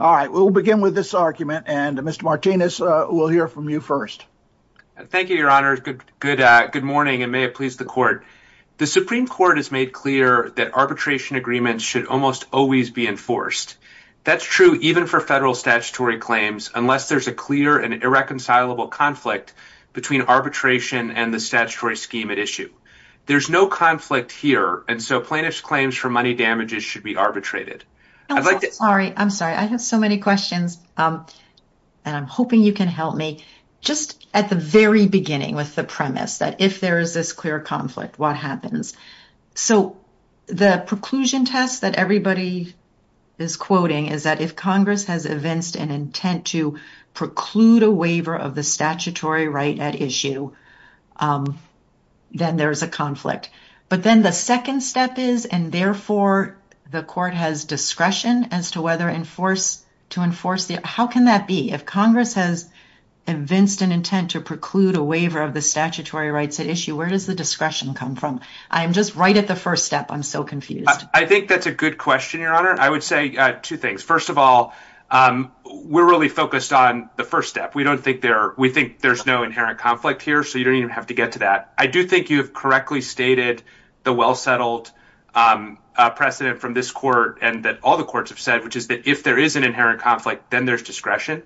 all right we'll begin with this argument and mister martinez uh... we'll hear from you first thank you your honor good good uh... good morning and may it please the court the supreme court has made clear that arbitration agreements should almost always be enforced that's true even for federal statutory claims unless there's a clear and irreconcilable conflict between arbitration and the statutory scheme at issue there's no conflict here and so plaintiff's claims for money damages should be arbitrated I'm sorry I have so many questions and I'm hoping you can help me just at the very beginning with the premise that if there is this clear conflict what happens the preclusion test that everybody is quoting is that if congress has evinced an intent to preclude a waiver of the statutory right at issue then there's a conflict but then the second step is and therefore the court has discretion as to whether enforce to enforce the how can that be if congress has evinced an intent to preclude a waiver of the statutory rights at issue where does the discretion come from I'm just right at the first step I'm so confused I think that's a good question your honor I would say two things first of all uh... we're really focused on the first step we don't think there we think there's no inherent conflict here so you don't even have to get to that I do think you've correctly stated the well settled precedent from this court and that all the courts have said which is that if there is an inherent conflict then there's discretion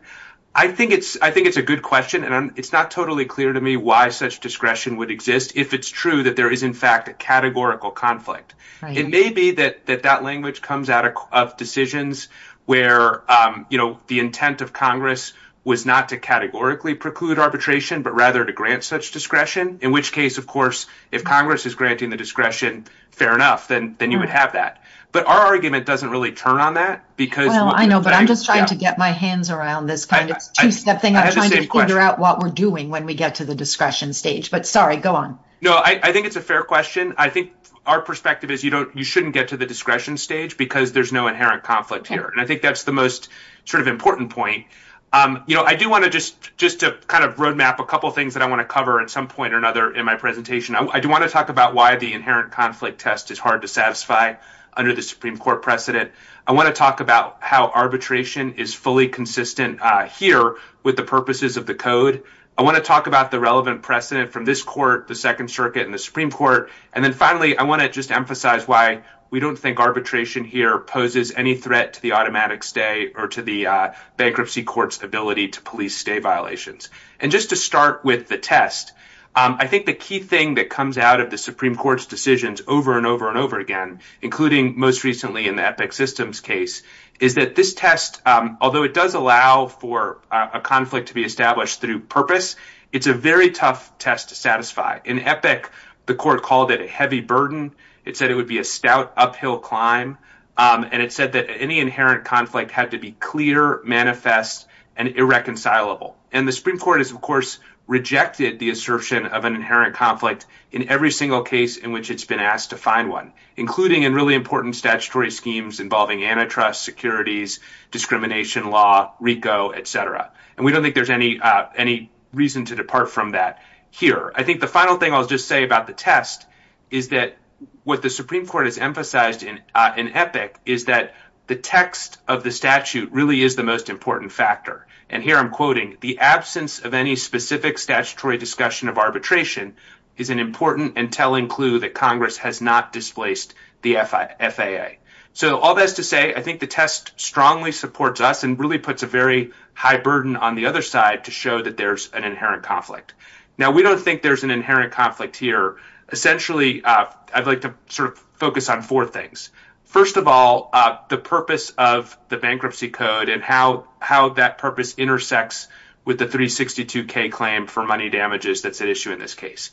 I think it's I think it's a good question and it's not totally clear to me why such discretion would exist if it's true that there is in fact a categorical conflict it may be that that that language comes out of decisions where uh... you know the intent of congress was not to categorically preclude arbitration but rather to grant such discretion in which case of course if congress is granting the discretion fair enough then you would have that but our argument doesn't really turn on that because well I know but I'm just trying to get my hands around this kind of two step thing I'm trying to figure out what we're doing when we get to the discretion stage but sorry go on no I think it's a fair question I think our perspective is you don't you shouldn't get to the discretion stage because there's no inherent conflict here and I think that's the most sort of important point uh... you know I do want to just just to kind of road map a couple things that I want to cover at some point or another in my presentation I do want to talk about why the inherent conflict test is hard to satisfy under the supreme court precedent I want to talk about how arbitration is fully consistent uh... here with the purposes of the code I want to talk about the relevant precedent from this court the second circuit in the supreme court and then finally I want to just emphasize why we don't think arbitration here poses any threat to the automatic stay or to the uh... bankruptcy court's ability to police stay violations and just to start with the test uh... I think the key thing that comes out of the supreme court's decisions over and over and over again including most recently in the epic systems case is that this test uh... although it does allow for uh... a conflict to be established through purpose it's a very tough test to satisfy in epic the court called it a heavy burden it said it would be a stout uphill climb uh... and it said that any inherent conflict had to be clear manifest and irreconcilable and the supreme court has of course rejected the assertion of an inherent conflict in every single case in which it's been asked to find one including in really important statutory schemes involving antitrust securities discrimination law, RICO, etc. and we don't think there's any uh... any reason to depart from that here I think the final thing I'll just say about the test is that what the supreme court has emphasized in uh... in epic is that the text of the statute really is the most important factor and here I'm quoting the absence of any specific statutory discussion of arbitration is an important and telling clue that congress has not displaced the FAA so all that is to say I think the test strongly supports us and really puts a very high burden on the other side to show that there's an inherent conflict now we don't think there's an inherent conflict here essentially uh... I'd like to sort of focus on four things first of all uh... the purpose of the bankruptcy code and how how that purpose intersects with the 362k claim for money damages that's at issue in this case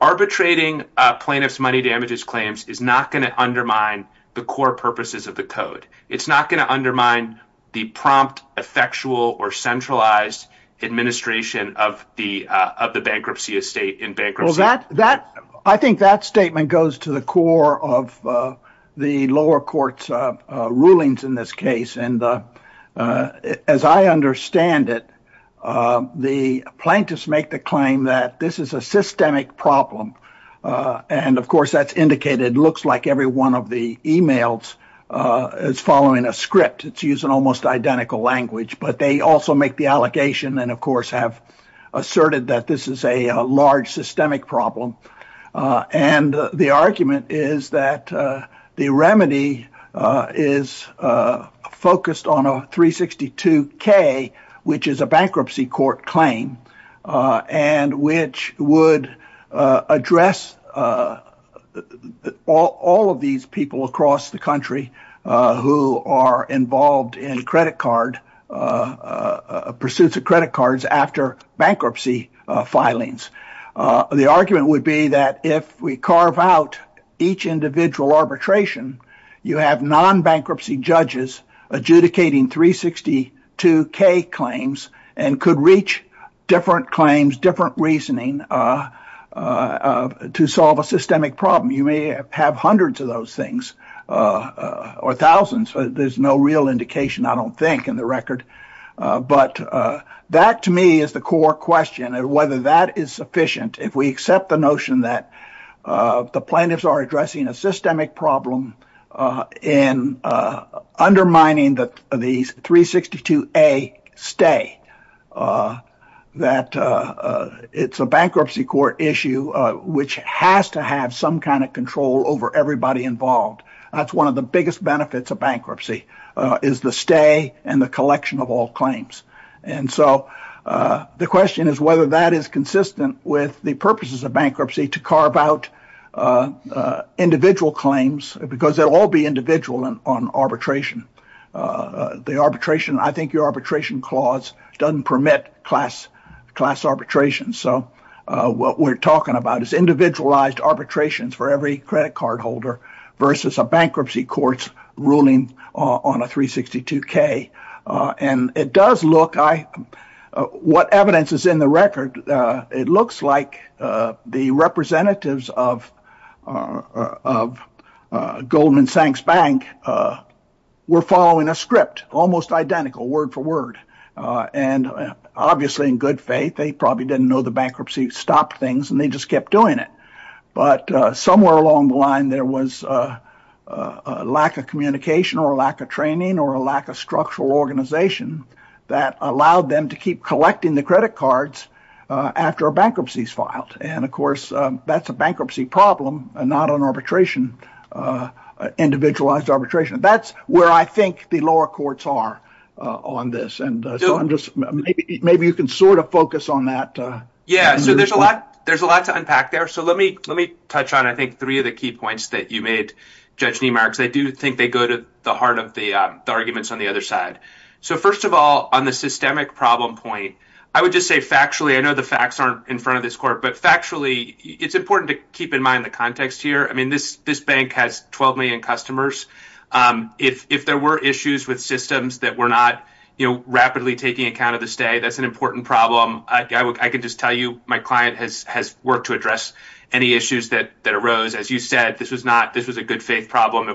arbitrating plaintiff's money damages claims is not going to undermine the core purposes of the code it's not going to undermine the prompt effectual or centralized administration of the uh... of the bankruptcy estate in bankruptcy I think that statement goes to the core of the lower courts uh... rulings in this case and uh... as I understand it uh... the plaintiffs make the claim that this is a systemic problem uh... and of course that's indicated looks like every one of the emails uh... is following a script it's used in almost identical language but they also make the allegation and of course have asserted that this is a large systemic problem uh... and uh... the argument is that uh... the remedy uh... is uh... focused on a 362k which is a bankruptcy court claim uh... and which would uh... address uh... all of these people across the country uh... who are involved in credit card uh... pursuits of credit cards after bankruptcy filings uh... the argument would be that if we carve out each individual arbitration you have non-bankruptcy judges adjudicating 362k claims and could reach different claims different reasoning uh... uh... to solve a systemic problem you may have hundreds of those things uh... or thousands but there's no real indication I don't think in the record uh... but uh... that to me is the core question and whether that is sufficient if we accept the notion that uh... the plaintiffs are addressing a systemic problem uh... and uh... undermining the 362a stay uh... that uh... it's a bankruptcy court issue uh... which has to have some kind of control over everybody involved that's one of the biggest benefits of bankruptcy uh... is the stay and the collection of all claims and so uh... the question is whether that is consistent with the purposes of bankruptcy to carve out uh... uh... uh... the arbitration I think your arbitration clause doesn't permit class class arbitration so uh... what we're talking about is individualized arbitrations for every credit card holder versus a bankruptcy court's ruling on a 362k uh... and it does look I uh... what evidence is in the record uh... it looks like uh... the representatives of uh... of uh... Goldman Sachs Bank uh... were following a script almost identical word for word uh... and uh... obviously in good faith they probably didn't know the bankruptcy stopped things and they just kept doing it but uh... somewhere along the line there was uh... uh... lack of communication or lack of training or a lack of structural organization that allowed them to keep collecting the credit cards uh... after a bankruptcy is filed and of course uh... that's a bankruptcy problem and not an arbitration uh... I think the lower courts are uh... on this and uh... so I'm just maybe you can sort of focus on that uh... yeah so there's a lot there's a lot to unpack there so let me let me touch on I think three of the key points that you made Judge Niemeyer because I do think they go to the heart of the uh... the arguments on the other side so first of all on the systemic problem point I would just say factually I know the facts aren't in front of this court but factually it's important to keep in mind the context here I mean this this bank has twelve million customers uh... if if there were issues with systems that were not you know rapidly taking account of the stay that's an important problem I can just tell you my client has has worked to address any issues that that arose as you said this was not this was a good faith problem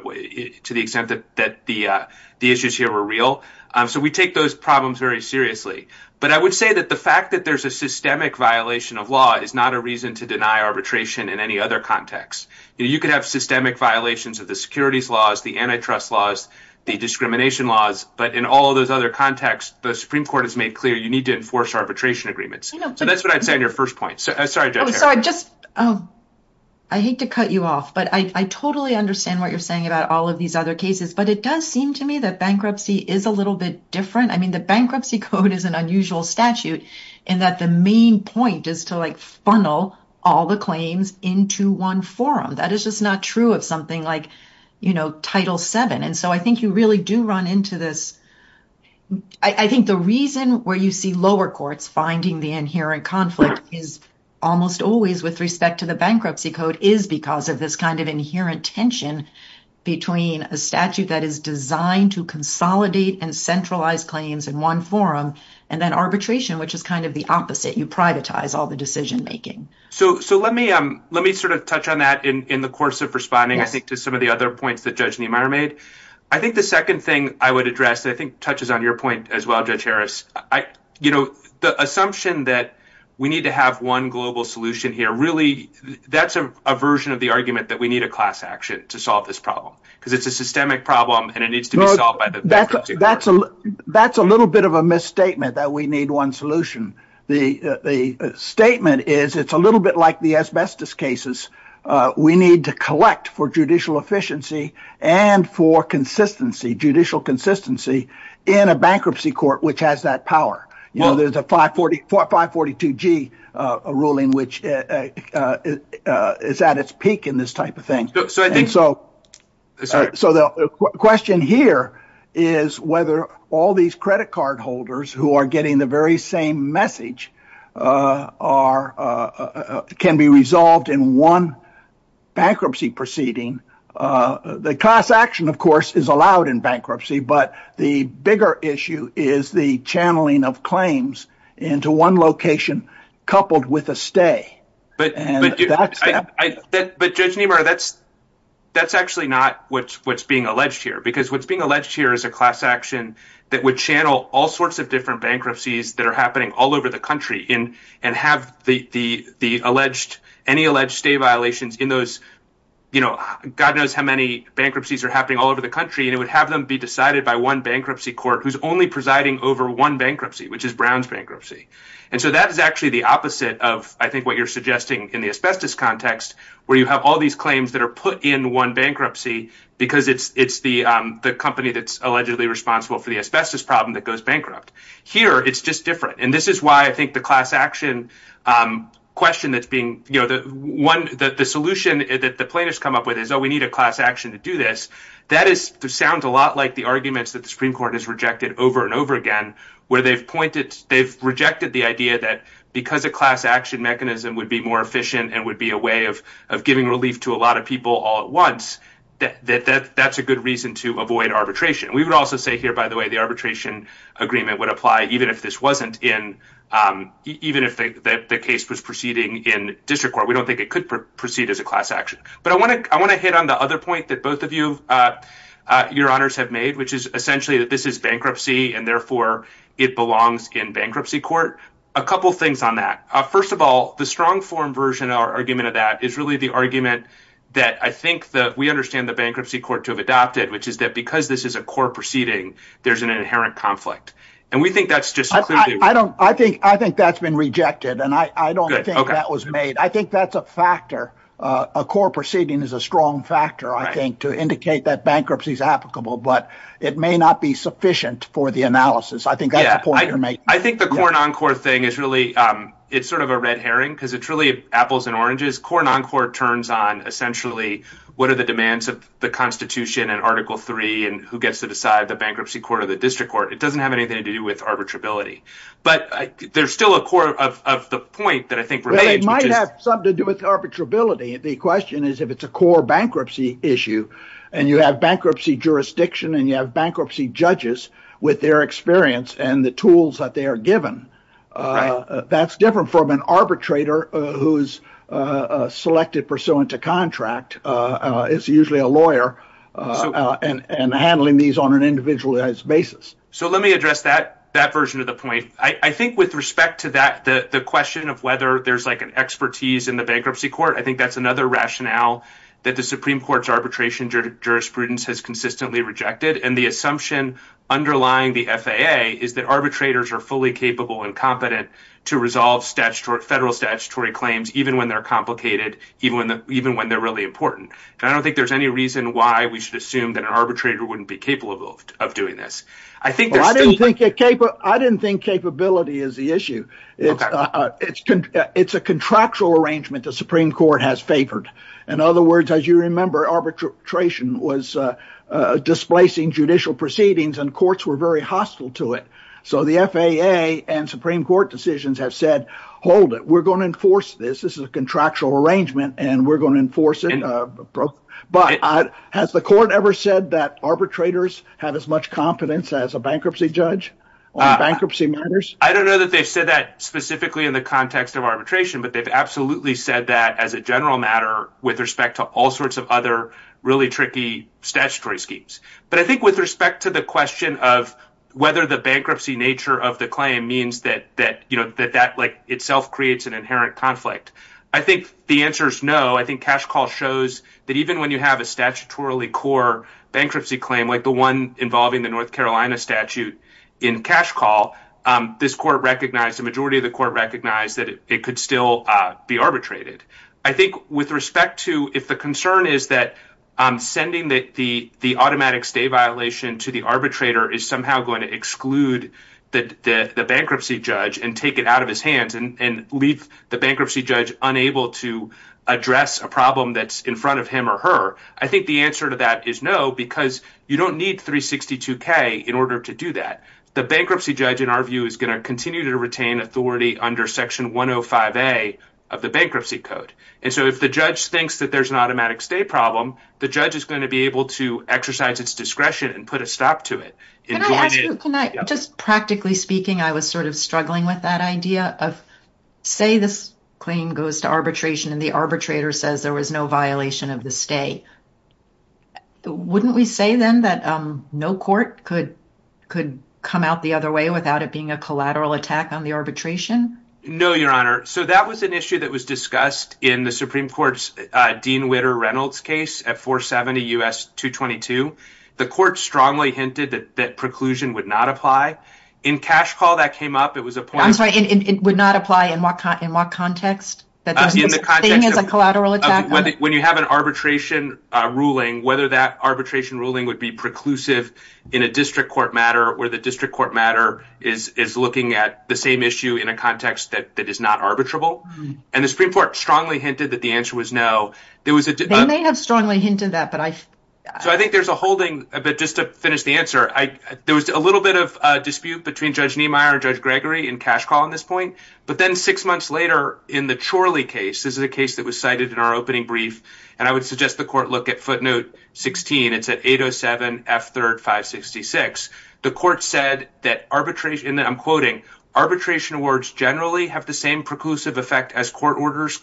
to the extent that that the uh... the issues here were real uh... so we take those problems very seriously but I would say that the fact that there's a systemic violation of law is not a reason to deny arbitration in any other context you could have systemic violations of the securities laws the antitrust laws the discrimination laws but in all those other contexts the supreme court has made clear you need to enforce arbitration agreements so that's what I'd say on your first point I hate to cut you off but I totally understand what you're saying about all of these other cases but it does seem to me that bankruptcy is a little bit different I mean the bankruptcy code is an unusual statute and that the main point is to like funnel all the claims into one forum that is just not true of something like you know title seven and so I think you really do run into this I think the reason where you see lower courts finding the inherent conflict is almost always with respect to the bankruptcy code is because of this kind of inherent tension between a statute that is designed to consolidate and centralize claims in one forum and then arbitration which is kind of the opposite you privatize all the decision making so let me sort of touch on that in the course of responding to some of the other points that Judge Niemeyer made I think the second thing I would address I think touches on your point as well Judge Harris you know the assumption that we need to have one global solution here really that's a version of the argument that we need a class action to solve this problem because it's a systemic problem and it needs to be solved by the bankruptcy court that's a little bit of a misstatement that we need one solution the statement is it's a little bit like the asbestos cases we need to collect for judicial efficiency and for judicial consistency in a bankruptcy court which has that power you know there's a 542G ruling which is at its peak in this type of thing so the question here is whether all these credit card holders who are getting the very same message can be resolved in one bankruptcy proceeding the class action of course is allowed in bankruptcy but the bigger issue is the channeling of claims into one location coupled with a stay but Judge Niemeyer that's actually not what's being alleged here because what's being alleged here is a class action that would channel all sorts of different bankruptcies that are happening all over the country and have any alleged stay violations in those you know God knows how many bankruptcies are happening all over the country and it would have them be decided by one bankruptcy court who's only presiding over one bankruptcy which is Brown's bankruptcy and so that is actually the opposite of I think what you're suggesting in the asbestos context where you have all these claims that are put in one bankruptcy because it's the company that's allegedly responsible for the asbestos problem that goes bankrupt here it's just different and this is why I think the class action question that's being you know the solution that the plaintiffs come up with is oh we need a class action to do this that is to sound a lot like the arguments that the Supreme Court has rejected over and over again where they've pointed they've rejected the idea that because a class action mechanism would be more efficient and would be a way of giving relief to a lot of people all at once that that's a good reason to avoid arbitration we would also say here by the way the arbitration agreement would apply even if this wasn't in even if the case was proceeding in district court we don't think it could proceed as a class action but I want to I want to hit on the other point that both of you your honors have made which is essentially that this is bankruptcy and therefore it belongs in bankruptcy court a couple things on that first of all the strong form version our argument of that is really the argument that I think that we understand the bankruptcy court to have adopted which is that because this is a core proceeding there's an inherent conflict and we think that's just I don't I think I think that's been rejected and I don't think that was made. I think that's a factor a core proceeding is a strong factor. I think to indicate that bankruptcy is applicable, but it may not be sufficient for the analysis. I think I think the core non-core thing is really it's sort of a red herring because it's really apples and oranges core non-core turns on essentially what are the demands of the Constitution and article 3 and who gets to decide the bankruptcy court of the district court. It doesn't have anything to do with arbitrability, but there's still a core of the point that I think remains might have something to do with arbitrability. The question is if it's a core bankruptcy issue and you have bankruptcy jurisdiction and you have bankruptcy judges with their experience and the tools that they are given. That's different from an arbitrator who's selected pursuant to contract. It's usually a lawyer and handling these on an individualized basis. So let me address that that version of the point. I think with respect to that the question of whether there's like an expertise in the bankruptcy court. I think that's another rationale that the Supreme Court's arbitration jurisprudence has consistently rejected and the assumption underlying the FAA is that arbitrators are fully capable and competent to resolve statutory federal statutory claims, even when they're complicated even when the even when they're really important. I don't think there's any reason why we should assume that an arbitrator wouldn't be capable of doing this. I think I didn't think it capable. I didn't think capability is the issue. It's a contractual arrangement the Supreme Court has favored. In other words, as you remember arbitration was displacing judicial proceedings and courts were very hostile to it. So the FAA and Supreme Court decisions have said hold it. We're going to enforce this. This is a contractual arrangement and we're going to enforce it. But has the court ever said that arbitrators have as much competence as a bankruptcy judge on bankruptcy matters? I don't know that they've said that specifically in the context of arbitration, but they've absolutely said that as a general matter with respect to all sorts of other really tricky statutory schemes. But I think with respect to the question of whether the bankruptcy nature of the claim means that you know that that like itself creates an inherent conflict. I think the answer is no. I think cash call shows that even when you have a statutorily core bankruptcy claim, like the one involving the North Carolina statute in cash call, this court recognized a majority of the court recognized that it could still be arbitrated. I think with respect to if the concern is that sending the automatic stay violation to the arbitrator is somehow going to exclude the bankruptcy judge and take it out of his hands and leave the bankruptcy judge unable to address a problem that's in front of him or her. I think the answer to that is no, because you don't need 362K in order to do that. The bankruptcy judge, in our view, is going to continue to retain authority under section 105A of the bankruptcy code. And so if the judge thinks that there's an automatic stay problem, the judge is going to be able to exercise its discretion and put a stop to it. Can I ask you, just practically speaking, I was sort of struggling with that idea of say this claim goes to arbitration and the arbitrator says there was no violation of the stay. Wouldn't we say then that no court could could come out the other way without it being a collateral attack on the arbitration? No, Your Honor. So that was an issue that was discussed in the Supreme Court's Dean Witter Reynolds case at 470 U.S. 222. The court strongly hinted that that preclusion would not apply. In Cash Call that came up, it was a point... I'm sorry, it would not apply in what context? In the context of when you have an arbitration ruling, whether that arbitration ruling would be preclusive in a district court matter or the district court matter is looking at the same issue in a context that is not arbitrable. And the Supreme Court strongly hinted that the answer was no. They may have strongly hinted that, but I... So I think there's a holding, but just to finish the answer, there was a little bit of a dispute between Judge Niemeyer and Judge Gregory in Cash Call on this point. But then six months later in the Chorley case, this is a case that was cited in our opening brief, and I would suggest the court look at footnote 16. It's at 807 F3rd 566. The court said that arbitration... And I'm quoting... Arbitration awards generally have the same preclusive effect as court orders,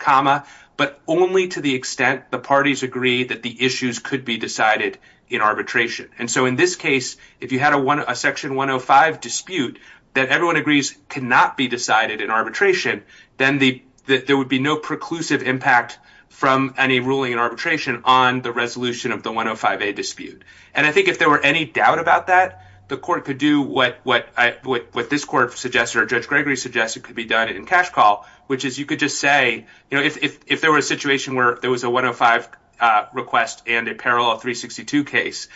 but only to the extent the parties agree that the issues could be decided in arbitration. And so in this case, if you had a Section 105 dispute that everyone agrees cannot be decided in arbitration, then there would be no preclusive impact from any ruling in arbitration on the resolution of the 105A dispute. And I think if there were any doubt about that, the court could do what this court suggested or Judge Gregory suggested could be done in Cash Call, which is you could just say, you know, if there were a situation where there was a 105 request and a parallel 362 case,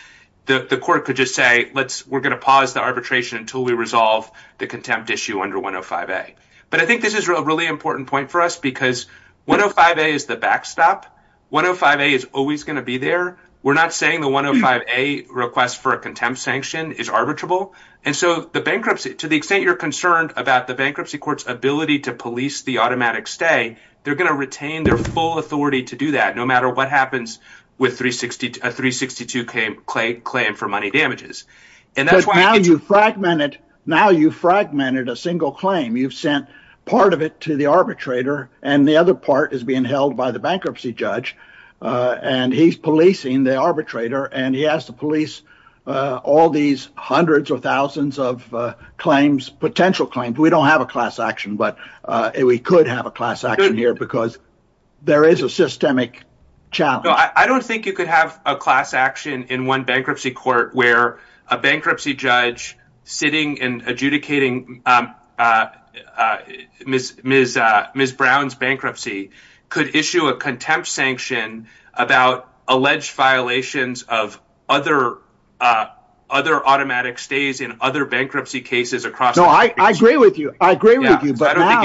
the court could just say, let's... We're going to pause the arbitration until we resolve the contempt issue under 105A. But I think this is a really important point for us because 105A is the backstop. 105A is always going to be there. We're not saying the 105A request for a contempt sanction is arbitrable. And so the bankruptcy, to the extent you're concerned about the bankruptcy court's ability to police the automatic stay, they're going to retain their full authority to do that no matter what happens with a 362 claim for money damages. Now you've fragmented a single claim. You've sent part of it to the arbitrator and the other part is being held by the bankruptcy judge. And he's policing the arbitrator and he has to police all these hundreds or thousands of claims, potential claims. We don't have a class action, but we could have a class action here because there is a systemic challenge. No, I don't think you could have a class action in one bankruptcy court where a bankruptcy judge sitting and adjudicating Ms. Brown's bankruptcy could issue a contempt sanction about alleged violations of other automatic stays in other bankruptcy cases across the country. No, I agree with you. I agree with you. But now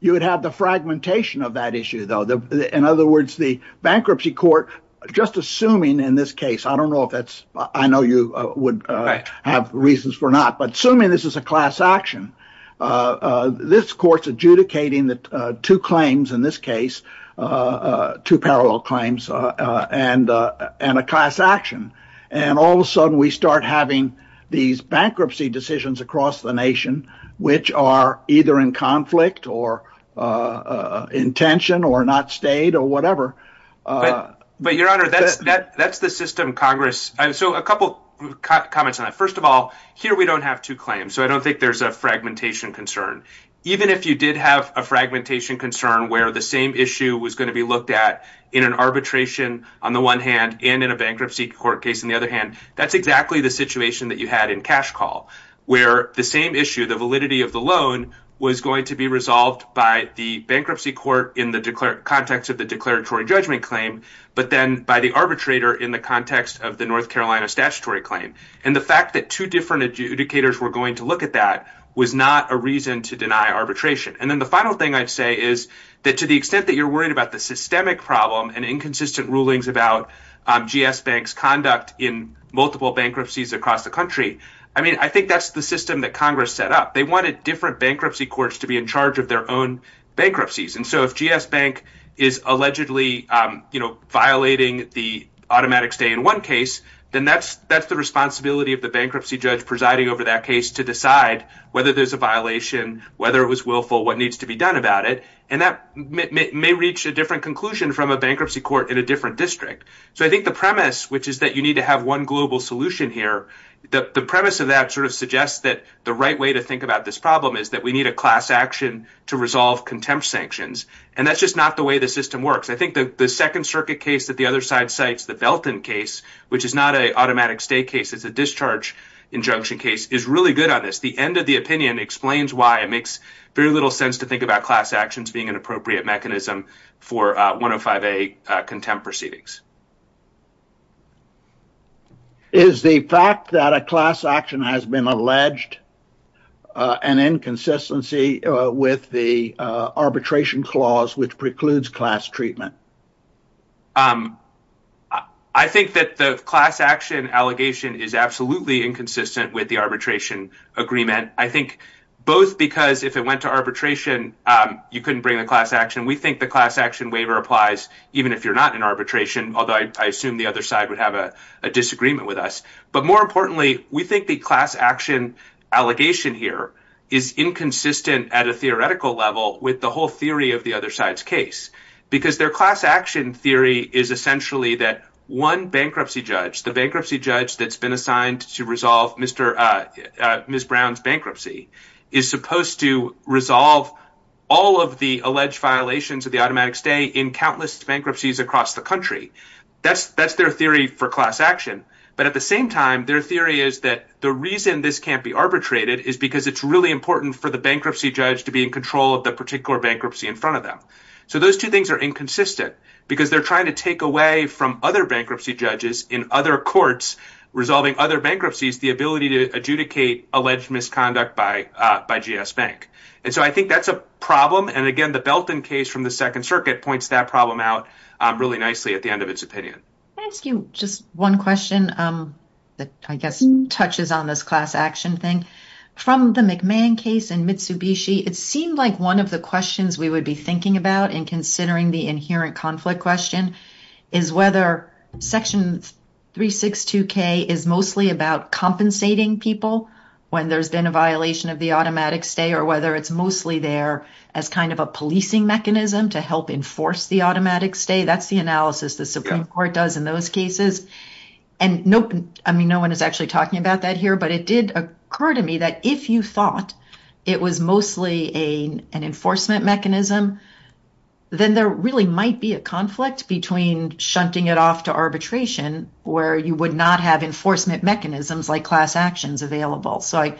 you would have the fragmentation of that issue, though. In other words, the bankruptcy court, just assuming in this case, I don't know if that's I know you would have reasons for not, but assuming this is a class action, this court's adjudicating that two claims in this case, two parallel claims and and a class action. And all of a sudden we start having these bankruptcy decisions across the nation which are either in conflict or intention or not stayed or whatever. But your honor, that's that's the system Congress. And so a couple comments on that. First of all, here we don't have to claim. So I don't think there's a fragmentation concern, even if you did have a fragmentation concern where the same issue was going to be looked at in an arbitration on the one hand and in a bankruptcy court case. On the other hand, that's exactly the situation that you had in cash call where the same issue, the validity of the loan was going to be resolved by the bankruptcy court in the context of the declaratory judgment claim. But then by the arbitrator in the context of the North Carolina statutory claim and the fact that two different adjudicators were going to look at that was not a reason to deny arbitration. And then the final thing I'd say is that to the extent that you're worried about the systemic problem and inconsistent rulings about GS Bank's conduct in multiple bankruptcies across the country. I mean, I think that's the system that Congress set up. They wanted different bankruptcy courts to be in charge of their own bankruptcies. And so if GS Bank is allegedly violating the automatic stay in one case, then that's the responsibility of the bankruptcy judge presiding over that case to decide whether there's a violation, whether it was willful, what needs to be done about it. And that may reach a different conclusion from a bankruptcy court in a different district. So I think the premise, which is that you need to have one global solution here, the premise of that sort of suggests that the right way to think about this problem is that we need a class action to resolve contempt sanctions. And that's just not the way the system works. I think the Second Circuit case that the other side cites, the Belton case, which is not an automatic stay case, it's a discharge injunction case, is really good on this. The end of the opinion explains why it makes very little sense to think about class actions being an appropriate mechanism for 105A contempt proceedings. Is the fact that a class action has been alleged an inconsistency with the arbitration clause, which precludes class treatment? I think that the class action allegation is absolutely inconsistent with the arbitration agreement. I think both because if it went to arbitration, you couldn't bring the class action. We think the class action waiver applies even if you're not in arbitration. Although I assume the other side would have a disagreement with us. But more importantly, we think the class action allegation here is inconsistent at a theoretical level with the whole theory of the other side's case. Because their class action theory is essentially that one bankruptcy judge, the bankruptcy judge that's been assigned to resolve Ms. Brown's bankruptcy, is supposed to resolve all of the alleged violations of the automatic stay in countless bankruptcies across the country. That's their theory for class action. But at the same time, their theory is that the reason this can't be arbitrated is because it's really important for the bankruptcy judge to be in control of the particular bankruptcy in front of them. So those two things are inconsistent because they're trying to take away from other bankruptcy judges in other courts, resolving other bankruptcies, the ability to adjudicate alleged misconduct by GS Bank. And so I think that's a problem. And again, the Belton case from the Second Circuit points that problem out really nicely at the end of its opinion. I ask you just one question that I guess touches on this class action thing from the McMahon case in Mitsubishi. It seemed like one of the questions we would be thinking about in considering the inherent conflict question is whether Section 362K is mostly about compensating people when there's been a violation of the automatic stay or whether it's mostly there as kind of a policing mechanism to help enforce the automatic stay. That's the analysis the Supreme Court does in those cases. And no, I mean, no one is actually talking about that here. But it did occur to me that if you thought it was mostly an enforcement mechanism, then there really might be a conflict between shunting it off to arbitration where you would not have enforcement mechanisms like class actions available. So I,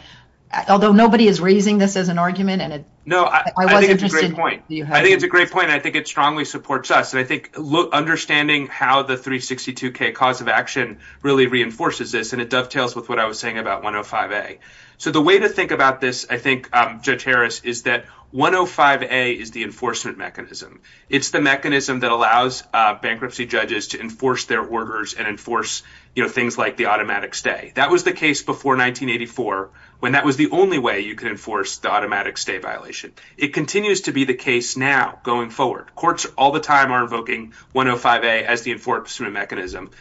although nobody is raising this as an argument, and I wasn't interested in it, do you have anything to add? No, I think it's a great point. I think it strongly supports us. And I think understanding how the 362K cause of action really reinforces this, and it dovetails with what I was saying about 105A. So the way to think about this, I think, Judge Harris, is that 105A is the enforcement mechanism. It's the mechanism that allows bankruptcy judges to enforce their orders and enforce, you know, things like the automatic stay. That was the case before 1984 when that was the only way you could enforce the automatic stay violation. It continues to be the case now going forward. Courts all the time are invoking 105A as the enforcement mechanism.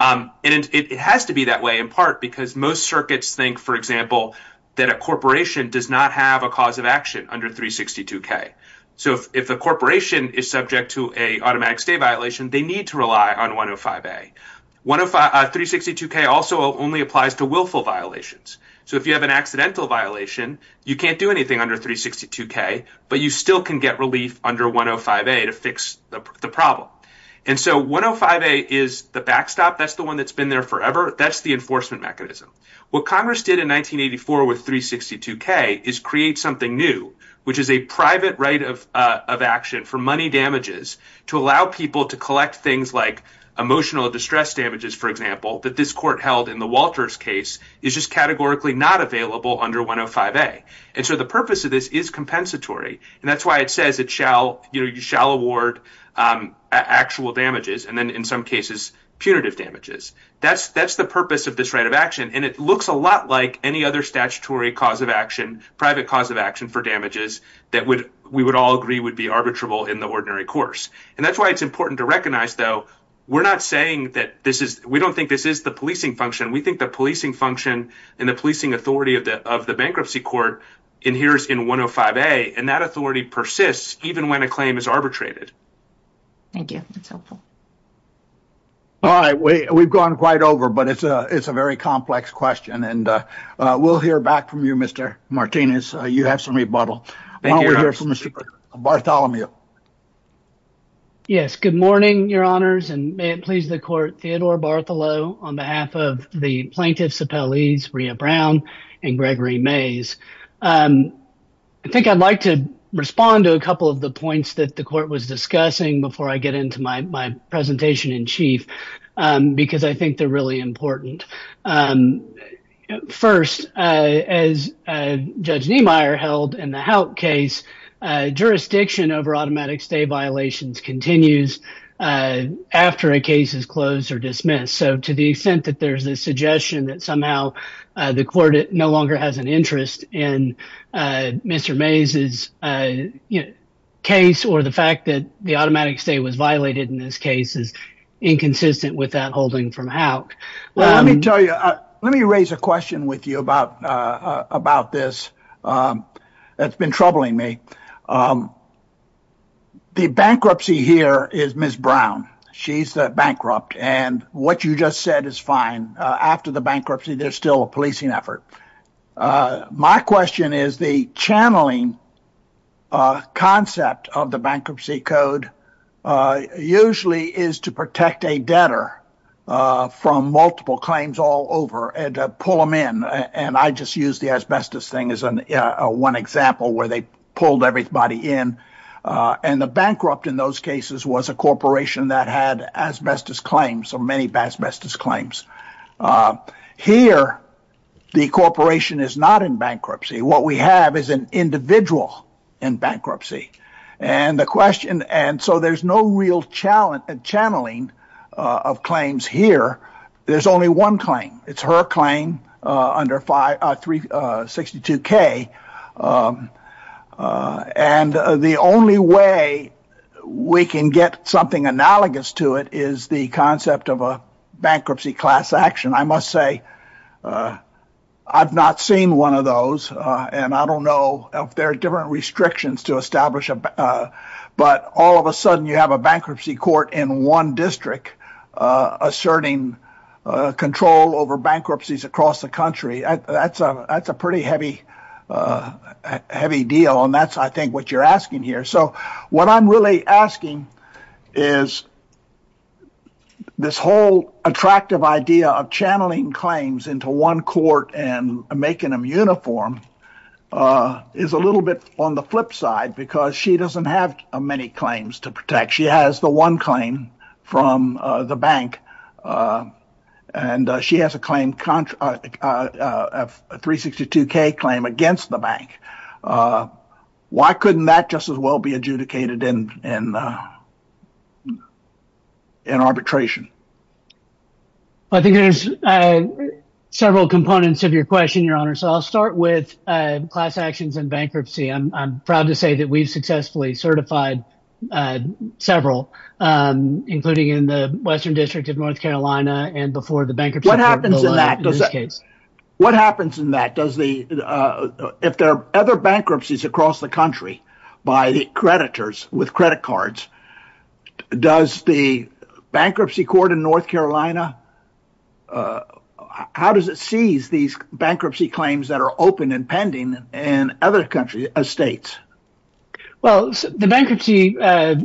And it has to be that way in part because most circuits think, for example, that a corporation does not have a cause of action under 362K. So if a corporation is subject to an automatic stay violation, they need to rely on 105A. 362K also only applies to willful violations. So if you have an accidental violation, you can't do anything under 362K, but you still can get relief under 105A to fix the problem. And so 105A is the backstop. That's the one that's been there forever. That's the enforcement mechanism. What Congress did in 1984 with 362K is create something new, which is a private right of action for money damages to allow people to collect things like emotional distress damages, for example, that this court held in the Walters case is just categorically not available under 105A. And so the purpose of this is compensatory. And that's why it says it shall award actual damages and then in some cases punitive damages. That's the purpose of this right of action. And it looks a lot like any other statutory cause of action, private cause of action for damages that we would all agree would be arbitrable in the ordinary course. And that's why it's important to recognize, though, we're not saying that this is we don't think this is the policing function. We think the policing function and the policing authority of the of the bankruptcy court in here is in 105A. And that authority persists even when a claim is arbitrated. Thank you. That's helpful. All right, we've gone quite over, but it's a it's a very complex question, and we'll hear back from you, Mr. Martinez. You have some rebuttal. Thank you. Bartholomew. Yes. Good morning, your honors. And may it please the court. Theodore Bartholomew on behalf of the plaintiffs appellees, Rhea Brown and Gregory Mays. I think I'd like to respond to a couple of the points that the court was discussing before I get into my presentation in chief because I think they're really important. First, as Judge Niemeyer held in the Houk case, jurisdiction over automatic stay violations continues after a case is closed or dismissed. So to the extent that there's a suggestion that somehow the court no longer has an interest in Mr. Mays's case or the fact that the automatic stay was violated in this case is inconsistent with that holding from Houk. Well, let me tell you, let me raise a question with you about about this. That's been troubling me. The bankruptcy here is Ms. She's bankrupt. And what you just said is fine. After the bankruptcy, there's still a policing effort. My question is the channeling concept of the bankruptcy code usually is to protect a debtor from multiple claims all over and pull them in. And I just use the asbestos thing as one example where they pulled everybody in. And the bankrupt in those cases was a corporation that had asbestos claims or many asbestos claims. Here, the corporation is not in bankruptcy. What we have is an individual in bankruptcy. And the question and so there's no real challenge and channeling of claims here. There's only one claim. It's her claim under 562K. And the only way we can get something analogous to it is the concept of a bankruptcy class action. I must say, I've not seen one of those. And I don't know if there are different restrictions to establish. But all of a sudden you have a bankruptcy court in one district asserting control over bankruptcies across the country. That's a pretty heavy deal. And that's, I think, what you're asking here. So what I'm really asking is this whole attractive idea of channeling claims into one court and making them uniform is a little bit on the flip side. Because she doesn't have many claims to protect. She has the one claim from the bank. And she has a claim, a 362K claim against the bank. Why couldn't that just as well be adjudicated in arbitration? I think there's several components of your question, Your Honor. So I'll start with class actions and bankruptcy. I'm proud to say that we've successfully certified several, including in the Western District of North Carolina and before the bankruptcy. What happens in that case? What happens in that? Does the if there are other bankruptcies across the country by creditors with credit cards, does the bankruptcy court in North Carolina? How does it seize these bankruptcy claims that are open and pending and other countries as states? Well, the bankruptcy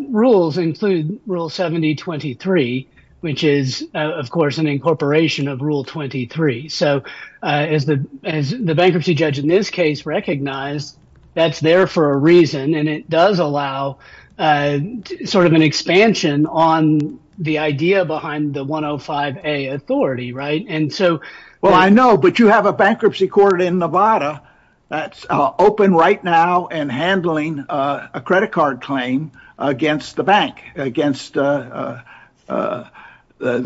rules include Rule 7023, which is, of course, an incorporation of Rule 23. So as the bankruptcy judge in this case recognized, that's there for a reason. And it does allow sort of an expansion on the idea behind the 105A authority. And so, well, I know. But you have a bankruptcy court in Nevada that's open right now and handling a credit card claim against the bank against the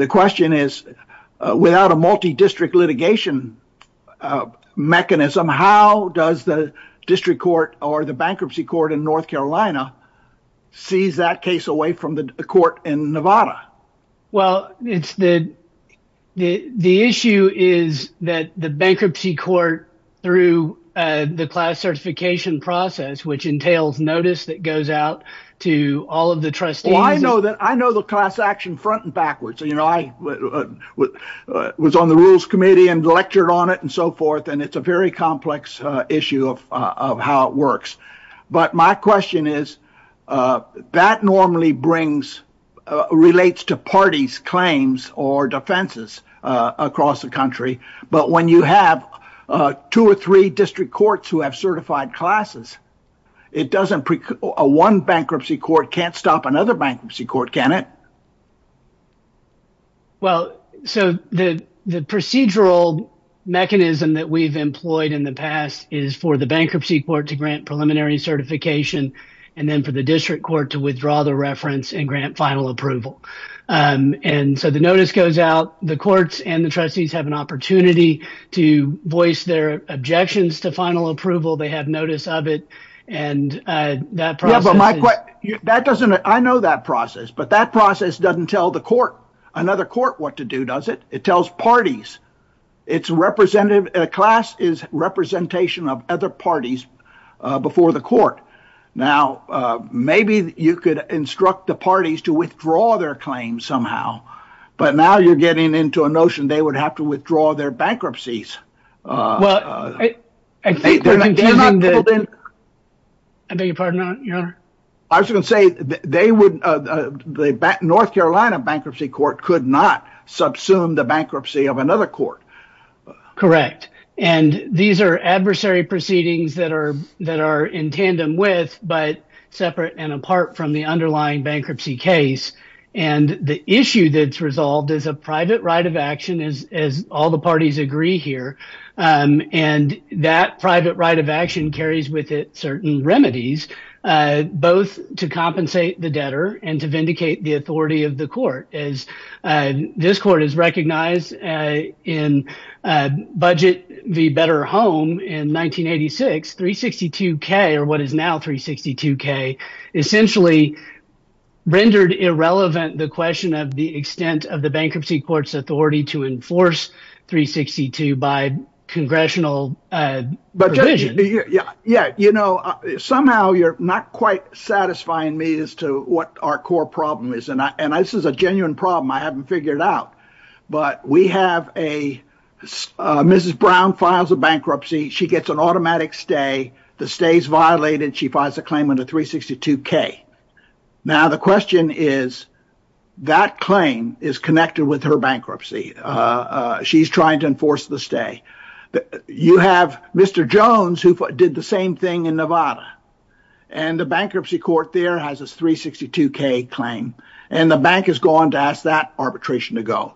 question is without a multidistrict litigation mechanism. Somehow does the district court or the bankruptcy court in North Carolina seize that case away from the court in Nevada? Well, it's the the issue is that the bankruptcy court through the class certification process, which entails notice that goes out to all of the trustee. I know that I know the class action front and backwards. You know, I was on the rules committee and lectured on it and so forth. And it's a very complex issue of how it works. But my question is that normally brings relates to parties, claims or defenses across the country. But when you have two or three district courts who have certified classes, it doesn't a one bankruptcy court can't stop another bankruptcy court, can it? Well, so the the procedural mechanism that we've employed in the past is for the bankruptcy court to grant preliminary certification and then for the district court to withdraw the reference and grant final approval. And so the notice goes out, the courts and the trustees have an opportunity to voice their objections to final approval. They have notice of it and that process. That doesn't I know that process, but that process doesn't tell the court another court what to do, does it? It tells parties it's representative class is representation of other parties before the court. Now, maybe you could instruct the parties to withdraw their claims somehow. But now you're getting into a notion they would have to withdraw their bankruptcies. Well, I think they're not. I beg your pardon, your honor. I was going to say they would the North Carolina Bankruptcy Court could not subsume the bankruptcy of another court. Correct. And these are adversary proceedings that are that are in tandem with but separate and apart from the underlying bankruptcy case. And the issue that's resolved is a private right of action, as all the parties agree here. And that private right of action carries with it certain remedies, both to compensate the debtor and to vindicate the authority of the court. As this court is recognized in budget, the better home in 1986, 362 K or what is now 362 K essentially rendered irrelevant. The question of the extent of the bankruptcy court's authority to enforce 362 by congressional. But yeah, yeah. You know, somehow you're not quite satisfying me as to what our core problem is. And this is a genuine problem I haven't figured out. But we have a Mrs. Brown files a bankruptcy. She gets an automatic stay. The stays violated. She files a claim into 362 K. Now, the question is, that claim is connected with her bankruptcy. She's trying to enforce the stay. You have Mr. Jones who did the same thing in Nevada. And the bankruptcy court there has a 362 K claim. And the bank is going to ask that arbitration to go.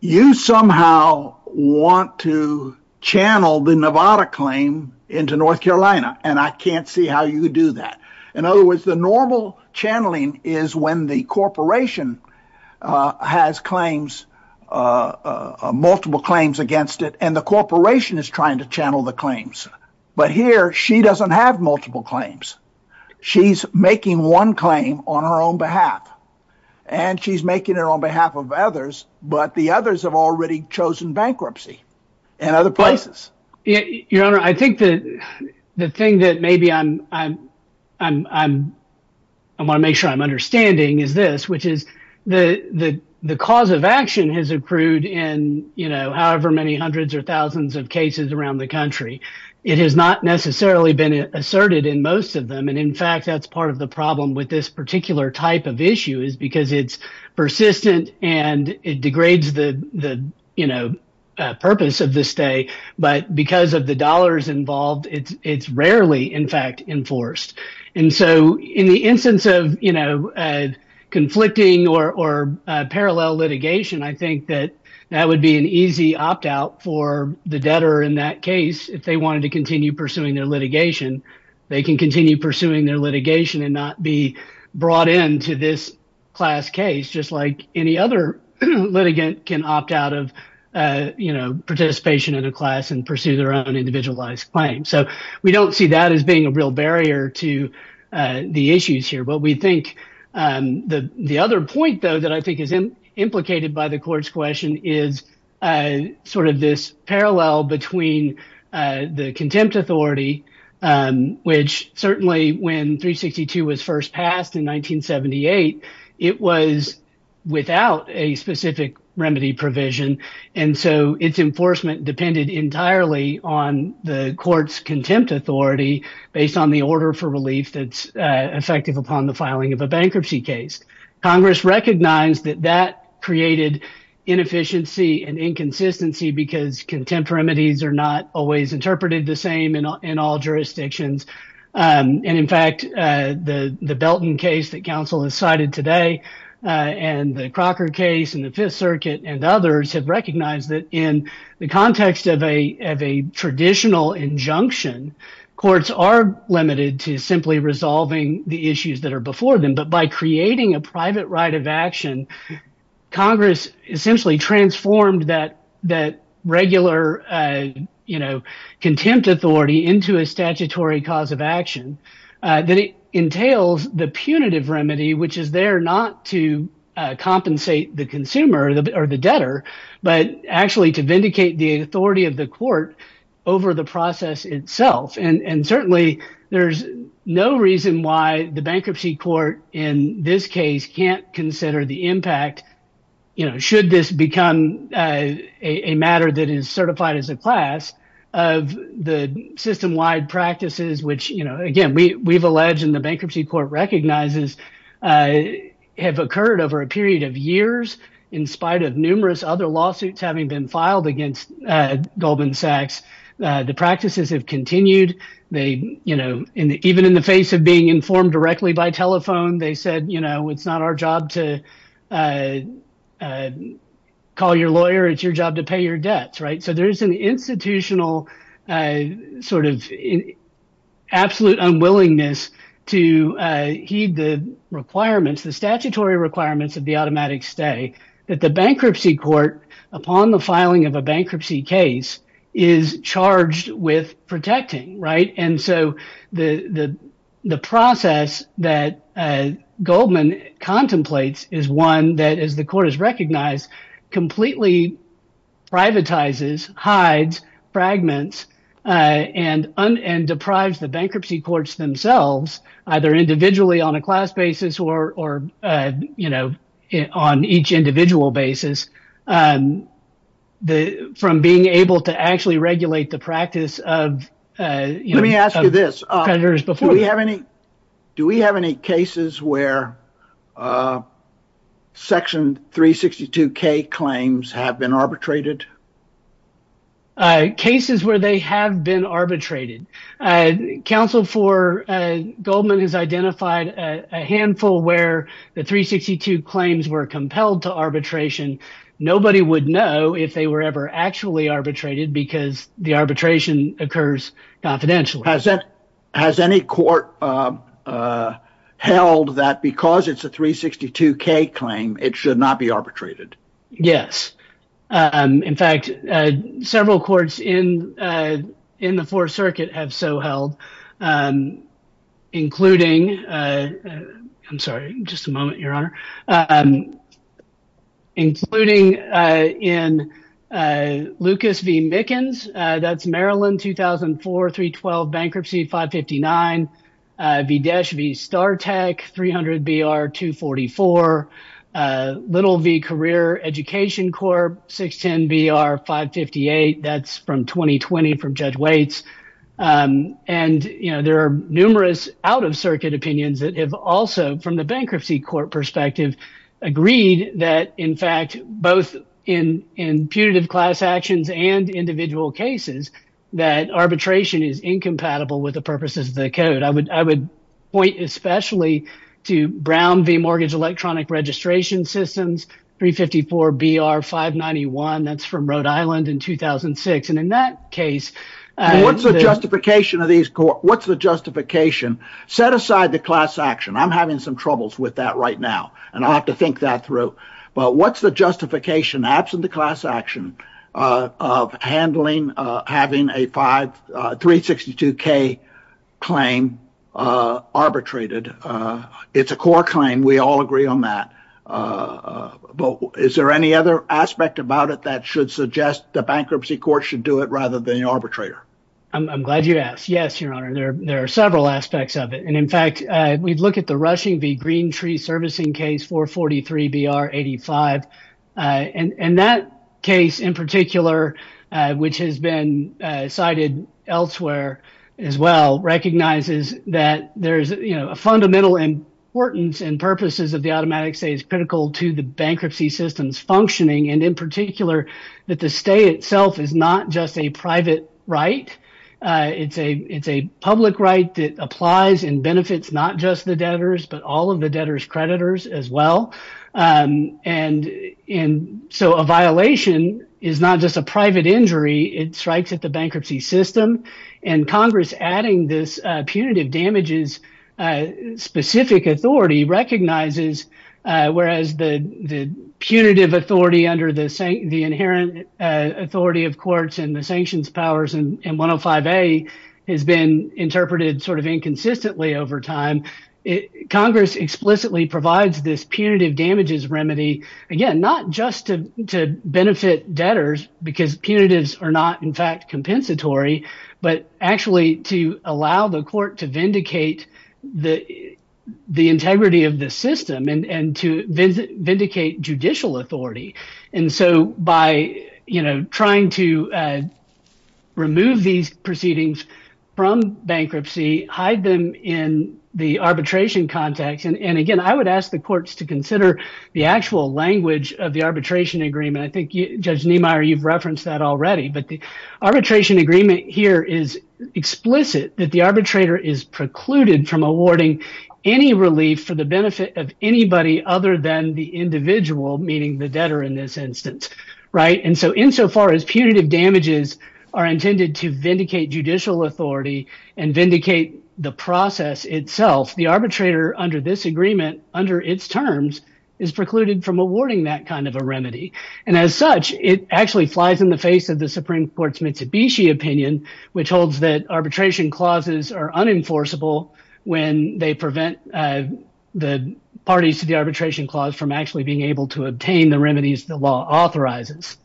You somehow want to channel the Nevada claim into North Carolina. And I can't see how you do that. In other words, the normal channeling is when the corporation has claims, multiple claims against it. And the corporation is trying to channel the claims. But here, she doesn't have multiple claims. She's making one claim on her own behalf. And she's making it on behalf of others. But the others have already chosen bankruptcy in other places. Your Honor, I think the thing that maybe I want to make sure I'm understanding is this. Which is the cause of action has accrued in however many hundreds or thousands of cases around the country. It has not necessarily been asserted in most of them. And in fact, that's part of the problem with this particular type of issue. Because it's persistent and it degrades the purpose of the stay. But because of the dollars involved, it's rarely, in fact, enforced. And so, in the instance of conflicting or parallel litigation, I think that that would be an easy opt-out for the debtor in that case if they wanted to continue pursuing their litigation. They can continue pursuing their litigation and not be brought into this class case. Just like any other litigant can opt out of participation in a class and pursue their own individualized claim. So, we don't see that as being a real barrier to the issues here. The other point, though, that I think is implicated by the court's question is sort of this parallel between the contempt authority. Which certainly when 362 was first passed in 1978, it was without a specific remedy provision. And so, its enforcement depended entirely on the court's contempt authority based on the order for relief that's effective upon the filing of a bankruptcy case. Congress recognized that that created inefficiency and inconsistency because contempt remedies are not always interpreted the same in all jurisdictions. And, in fact, the Belton case that counsel has cited today and the Crocker case and the Fifth Circuit and others have recognized that in the context of a traditional injunction, courts are limited to simply resolving the issues that are before them. But by creating a private right of action, Congress essentially transformed that regular contempt authority into a statutory cause of action. That entails the punitive remedy, which is there not to compensate the consumer or the debtor, but actually to vindicate the authority of the court over the process itself. And certainly, there's no reason why the bankruptcy court in this case can't consider the impact, should this become a matter that is certified as a class, of the system-wide practices which, again, we've alleged and the bankruptcy court recognizes have occurred over a period of years. In spite of numerous other lawsuits having been filed against Goldman Sachs, the practices have continued. Even in the face of being informed directly by telephone, they said, you know, it's not our job to call your lawyer. It's your job to pay your debts, right? So there's an institutional sort of absolute unwillingness to heed the requirements, the statutory requirements of the automatic stay, that the bankruptcy court, upon the filing of a bankruptcy case, is charged with protecting, right? And so the process that Goldman contemplates is one that, as the court has recognized, completely privatizes, hides, fragments, and deprives the bankruptcy courts themselves, either individually on a class basis or, you know, on each individual basis, from being able to actually regulate the practice of creditors before them. Let me ask you this. Do we have any cases where Section 362K claims have been arbitrated? Cases where they have been arbitrated. Counsel for Goldman has identified a handful where the 362 claims were compelled to arbitration. Nobody would know if they were ever actually arbitrated because the arbitration occurs confidentially. Has any court held that because it's a 362K claim, it should not be arbitrated? Yes. In fact, several courts in the Fourth Circuit have so held, including, I'm sorry, just a moment, Your Honor. Including in Lucas v. Mickens, that's Maryland 2004 312 Bankruptcy 559 v. Dash v. Star Tech 300 BR 244. Little v. Career Education Corp 610 BR 558, that's from 2020 from Judge Waits. And, you know, there are numerous out-of-circuit opinions that have also, from the bankruptcy court perspective, agreed that, in fact, both in putative class actions and individual cases, that arbitration is incompatible with the purposes of the code. I would point especially to Brown v. Mortgage Electronic Registration Systems 354 BR 591, that's from Rhode Island in 2006. And in that case... What's the justification of these courts? What's the justification? Set aside the class action. I'm having some troubles with that right now, and I have to think that through. But what's the justification, absent the class action, of handling, having a 362K claim arbitrated? It's a court claim. We all agree on that. But is there any other aspect about it that should suggest the bankruptcy court should do it rather than the arbitrator? I'm glad you asked. Yes, Your Honor, there are several aspects of it. And, in fact, we'd look at the Rushing v. Green Tree Servicing Case 443 BR 85. And that case in particular, which has been cited elsewhere as well, recognizes that there's, you know, fundamental importance and purposes of the automatic stay is critical to the bankruptcy system's functioning. And in particular, that the stay itself is not just a private right. It's a public right that applies and benefits not just the debtors, but all of the debtors' creditors as well. And so a violation is not just a private injury. It strikes at the bankruptcy system. And Congress adding this punitive damages specific authority recognizes, whereas the punitive authority under the inherent authority of courts and the sanctions powers in 105A has been interpreted sort of inconsistently over time. Congress explicitly provides this punitive damages remedy, again, not just to benefit debtors, because punitives are not, in fact, compensatory, but actually to allow the court to vindicate the integrity of the system and to vindicate judicial authority. And so by, you know, trying to remove these proceedings from bankruptcy, hide them in the arbitration context. And again, I would ask the courts to consider the actual language of the arbitration agreement. I think Judge Niemeyer, you've referenced that already. But the arbitration agreement here is explicit that the arbitrator is precluded from awarding any relief for the benefit of anybody other than the individual, meaning the debtor in this instance. Right. And so insofar as punitive damages are intended to vindicate judicial authority and vindicate the process itself, the arbitrator under this agreement, under its terms, is precluded from awarding that kind of a remedy. And as such, it actually flies in the face of the Supreme Court's Mitsubishi opinion, which holds that arbitration clauses are unenforceable when they prevent the parties to the arbitration clause from actually being able to obtain the remedies the law authorizes.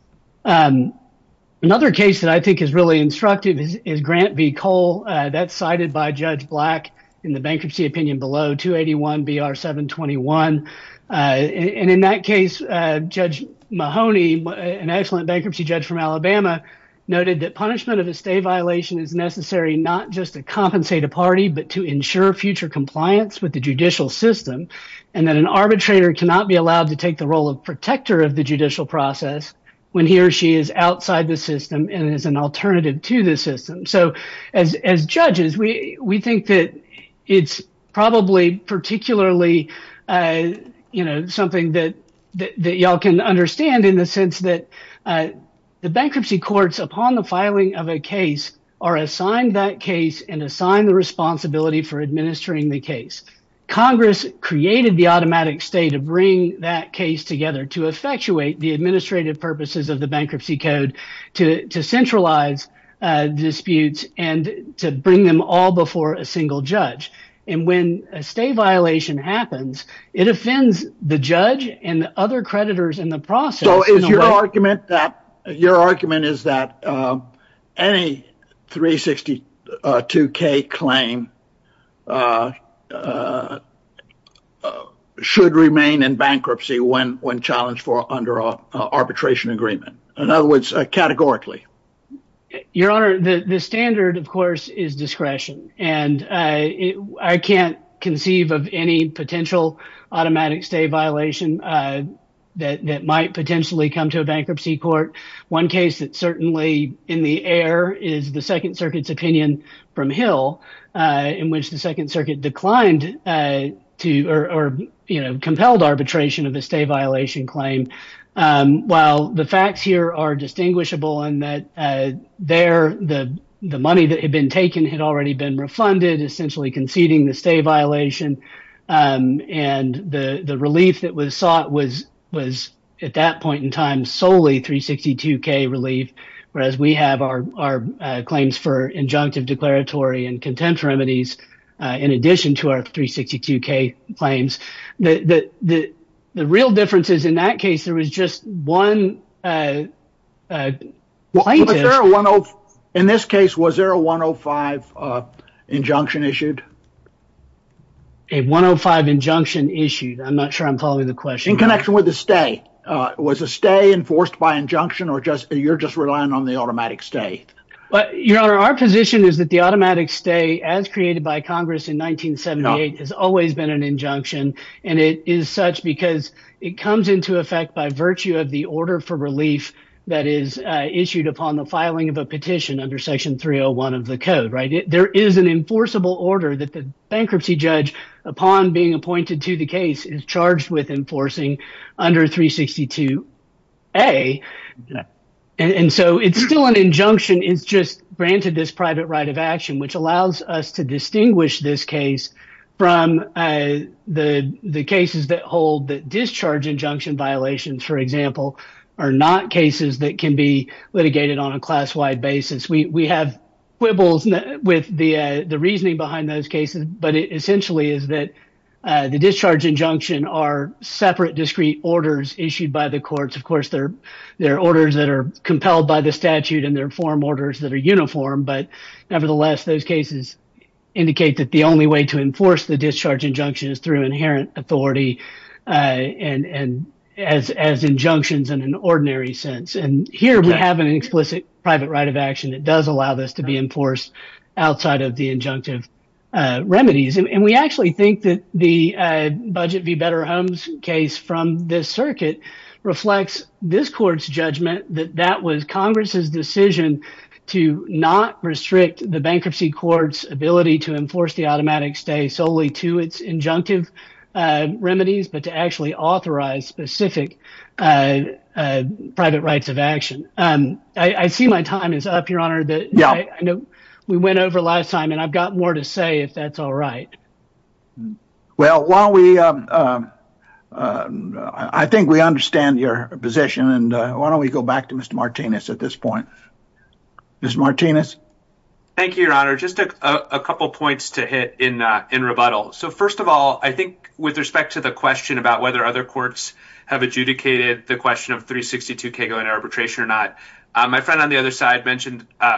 Another case that I think is really instructive is Grant v. Cole. That's cited by Judge Black in the bankruptcy opinion below, 281 BR 721. And in that case, Judge Mahoney, an excellent bankruptcy judge from Alabama, noted that punishment of a stay violation is necessary not just to compensate a party, but to ensure future compliance with the judicial system, and that an arbitrator cannot be allowed to take the role of protector of the judicial process when he or she is outside the system and is an alternative to the system. So, as judges, we think that it's probably particularly, you know, something that y'all can understand in the sense that the bankruptcy courts, upon the filing of a case, are assigned that case and assign the responsibility for administering the case. Congress created the automatic stay to bring that case together to effectuate the administrative purposes of the bankruptcy code, to centralize disputes, and to bring them all before a single judge. And when a stay violation happens, it offends the judge and other creditors in the process. So, your argument is that any 362K claim should remain in bankruptcy when challenged under an arbitration agreement. In other words, categorically. Your Honor, the standard, of course, is discretion. And I can't conceive of any potential automatic stay violation that might potentially come to a bankruptcy court. One case that's certainly in the air is the Second Circuit's opinion from Hill, in which the Second Circuit declined to, or, you know, compelled arbitration of a stay violation claim. While the facts here are distinguishable in that there, the money that had been taken had already been refunded, essentially conceding the stay violation. And the relief that was sought was, at that point in time, solely 362K relief. Whereas we have our claims for injunctive declaratory and contempt remedies, in addition to our 362K claims. The real difference is, in that case, there was just one plaintiff. In this case, was there a 105 injunction issued? A 105 injunction issued? I'm not sure I'm following the question. In connection with the stay. Was the stay enforced by injunction, or you're just relying on the automatic stay? Your Honor, our position is that the automatic stay, as created by Congress in 1978, has always been an injunction. And it is such because it comes into effect by virtue of the order for relief that is issued upon the filing of a petition under Section 301 of the code. There is an enforceable order that the bankruptcy judge, upon being appointed to the case, is charged with enforcing under 362A. And so it's still an injunction, it's just granted this private right of action, which allows us to distinguish this case from the cases that hold that discharge injunction violations, for example, are not cases that can be litigated on a class-wide basis. We have quibbles with the reasoning behind those cases, but it essentially is that the discharge injunction are separate, discrete orders issued by the courts. Of course, there are orders that are compelled by the statute, and there are form orders that are uniform, but nevertheless, those cases indicate that the only way to enforce the discharge injunction is through inherent authority and as injunctions in an ordinary sense. And here we have an explicit private right of action that does allow this to be enforced outside of the injunctive remedies. And we actually think that the Budget v. Better Homes case from this circuit reflects this court's judgment that that was Congress's decision to not restrict the bankruptcy court's ability to enforce the automatic stay solely to its injunctive remedies, but to actually authorize specific private rights of action. I see my time is up, Your Honor. I know we went over last time, and I've got more to say if that's all right. Well, I think we understand your position, and why don't we go back to Mr. Martinez at this point. Mr. Martinez? Thank you, Your Honor. Just a couple points to hit in rebuttal. First of all, I think with respect to the question about whether other courts have adjudicated the question of 362K going to arbitration or not, my friend on the other side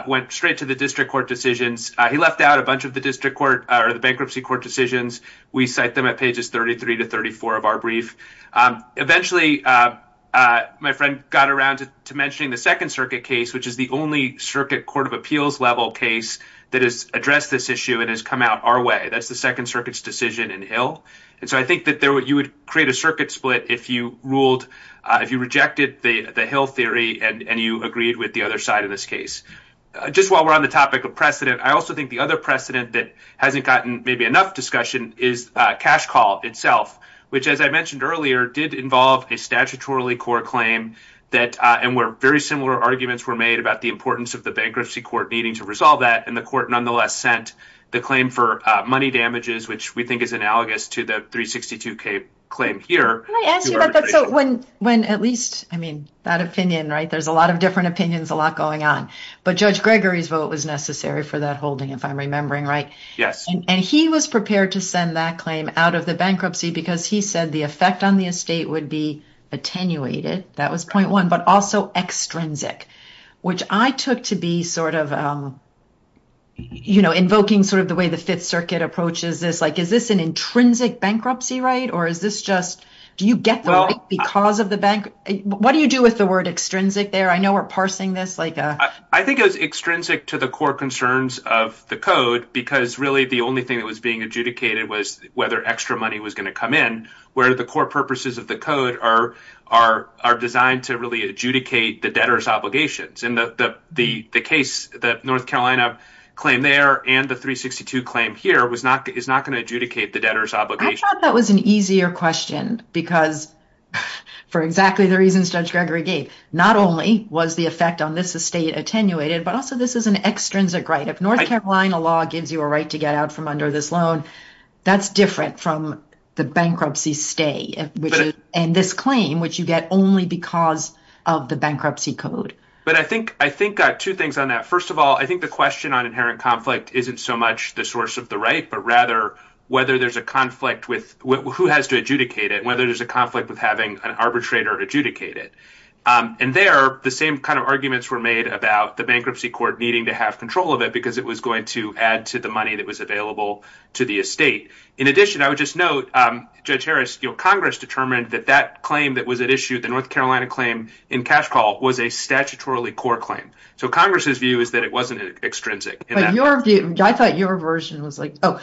went straight to the district court decisions. He left out a bunch of the bankruptcy court decisions. We cite them at pages 33 to 34 of our brief. Eventually, my friend got around to mentioning the Second Circuit case, which is the only circuit court of appeals level case that has addressed this issue and has come out our way. That's the Second Circuit's decision in Hill. So I think that you would create a circuit split if you rejected the Hill theory and you agreed with the other side of this case. Just while we're on the topic of precedent, I also think the other precedent that hasn't gotten maybe enough discussion is cash call itself, which, as I mentioned earlier, did involve a statutorily court claim and where very similar arguments were made about the importance of the bankruptcy court needing to resolve that, and the court nonetheless sent the claim for money damages, which we think is analogous to the 362K claim here. Can I ask you about that? So when at least, I mean, that opinion, right? There's a lot of different opinions, a lot going on. But Judge Gregory's vote was necessary for that holding, if I'm remembering right. Yes. And he was prepared to send that claim out of the bankruptcy because he said the effect on the estate would be attenuated. That was point one. But also extrinsic, which I took to be sort of, you know, invoking sort of the way the Fifth Circuit approaches this, like is this an intrinsic bankruptcy right or is this just do you get the right because of the bank? What do you do with the word extrinsic there? I know we're parsing this. I think it was extrinsic to the core concerns of the code because really the only thing that was being adjudicated was whether extra money was going to come in, where the core purposes of the code are designed to really adjudicate the debtor's And the case, the North Carolina claim there and the 362 claim here is not going to adjudicate the debtor's obligation. I thought that was an easier question because for exactly the reasons Judge Gregory gave, not only was the effect on this estate attenuated, but also this is an extrinsic right. If North Carolina law gives you a right to get out from under this loan, that's different from the bankruptcy stay and this claim, which you get only because of the bankruptcy code. But I think two things on that. First of all, I think the question on inherent conflict isn't so much the source of the right, but rather whether there's a conflict with who has to adjudicate it, whether there's a conflict with having an arbitrator adjudicate it. And there the same kind of arguments were made about the bankruptcy court needing to have control of it because it was going to add to the money that was In addition, I would just note, Judge Harris, Congress determined that that claim that was at issue, the North Carolina claim in cash call was a statutorily core claim. So Congress's view is that it wasn't extrinsic. I thought your version was like, oh,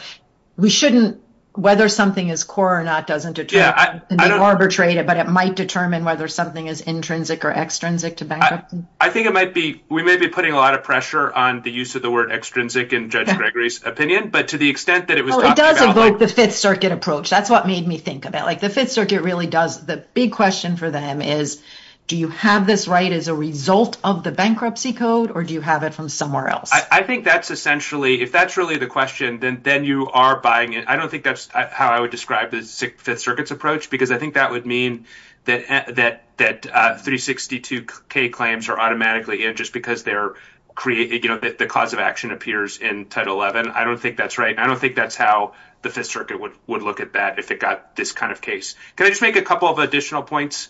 we shouldn't whether something is core or not doesn't detract. They arbitrate it, but it might determine whether something is intrinsic or extrinsic to bankruptcy. I think it might be, we may be putting a lot of pressure on the use of the word extrinsic in Judge Gregory's opinion, but to the extent that it does invoke the fifth circuit approach, that's what made me think of it. Like the fifth circuit really does. The big question for them is, do you have this right as a result of the bankruptcy code, or do you have it from somewhere else? I think that's essentially, if that's really the question, then you are buying it. I don't think that's how I would describe the fifth circuits approach, because I think that would mean that, that, that 362 K claims are automatically in just because they're creating, you know, the cause of action appears in title 11. I don't think that's right. I don't think that's how the fifth circuit would, would look at that. If it got this kind of case, can I just make a couple of additional points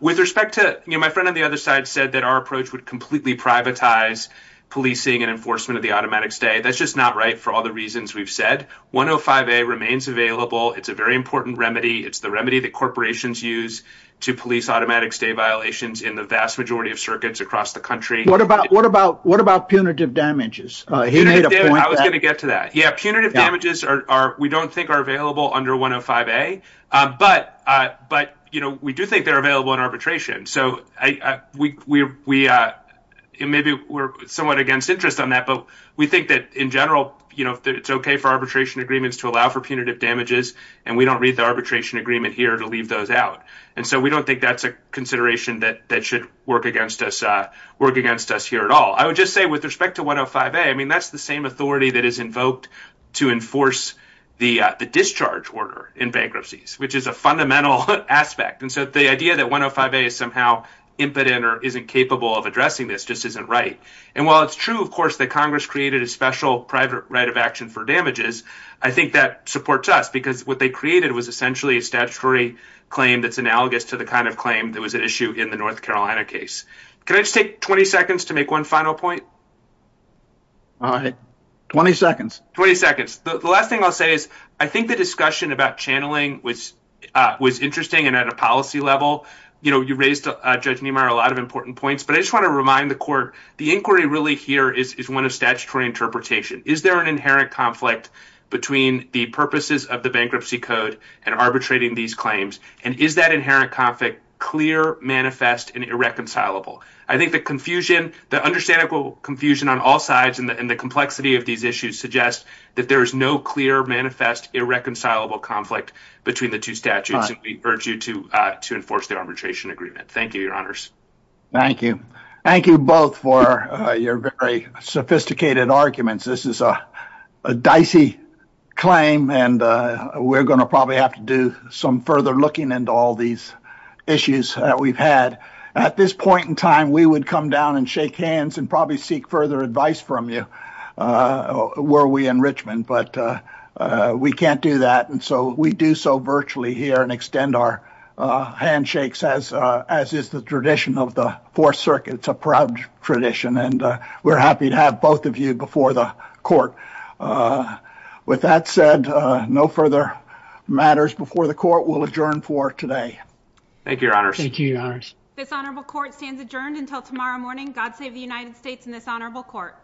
with respect to, you know, my friend on the other side said that our approach would completely privatize policing and enforcement of the automatic stay. That's just not right. For all the reasons we've said, one Oh five, a remains available. It's a very important remedy. It's the remedy that corporations use to police automatic stay violations in the vast majority of circuits across the country. What about, what about, what about punitive damages? He made a point. I was going to get to that. Punitive damages are, we don't think are available under one Oh five a, but, but, you know, we do think they're available in arbitration. So I, we, we, we, and maybe we're somewhat against interest on that, but we think that in general, you know, it's okay for arbitration agreements to allow for punitive damages. And we don't read the arbitration agreement here to leave those out. And so we don't think that's a consideration that, that should work against us, work against us here at all. I would just say with respect to one Oh five a, I mean, that's the same authority that is invoked to enforce the, the discharge order in bankruptcies, which is a fundamental aspect. And so the idea that one Oh five a is somehow impotent or isn't capable of addressing this just isn't right. And while it's true, of course that Congress created a special private right of action for damages, I think that supports us because what they created was essentially a statutory claim. That's analogous to the kind of claim that was at issue in the North Carolina case. Can I just take 20 seconds to make one final point? All right. 20 seconds, 20 seconds. The last thing I'll say is I think the discussion about channeling was, was interesting. And at a policy level, you know, you raised a judge Niemeyer, a lot of important points, but I just want to remind the court, the inquiry really here is, is one of statutory interpretation. Is there an inherent conflict between the purposes of the bankruptcy code and arbitrating these claims? And is that inherent conflict clear manifest and irreconcilable? I think the confusion, the understandable confusion on all sides and the, and the complexity of these issues suggest that there is no clear manifest irreconcilable conflict between the two statutes. And we urge you to, to enforce the arbitration agreement. Thank you, your honors. Thank you. Thank you both for your very sophisticated arguments. This is a, a dicey claim and we're going to probably have to do some further looking into all these issues that we've had at this point in time. We would come down and shake hands and probably seek further advice from you. Were we in Richmond, but we can't do that. And so we do so virtually here and extend our handshakes as, as is the tradition of the four circuits, a proud tradition. And we're happy to have both of you before the court with that said, no further matters before the court. We'll adjourn for today. Thank you, your honors. This honorable court stands adjourned until tomorrow morning. God save the United States in this honorable court.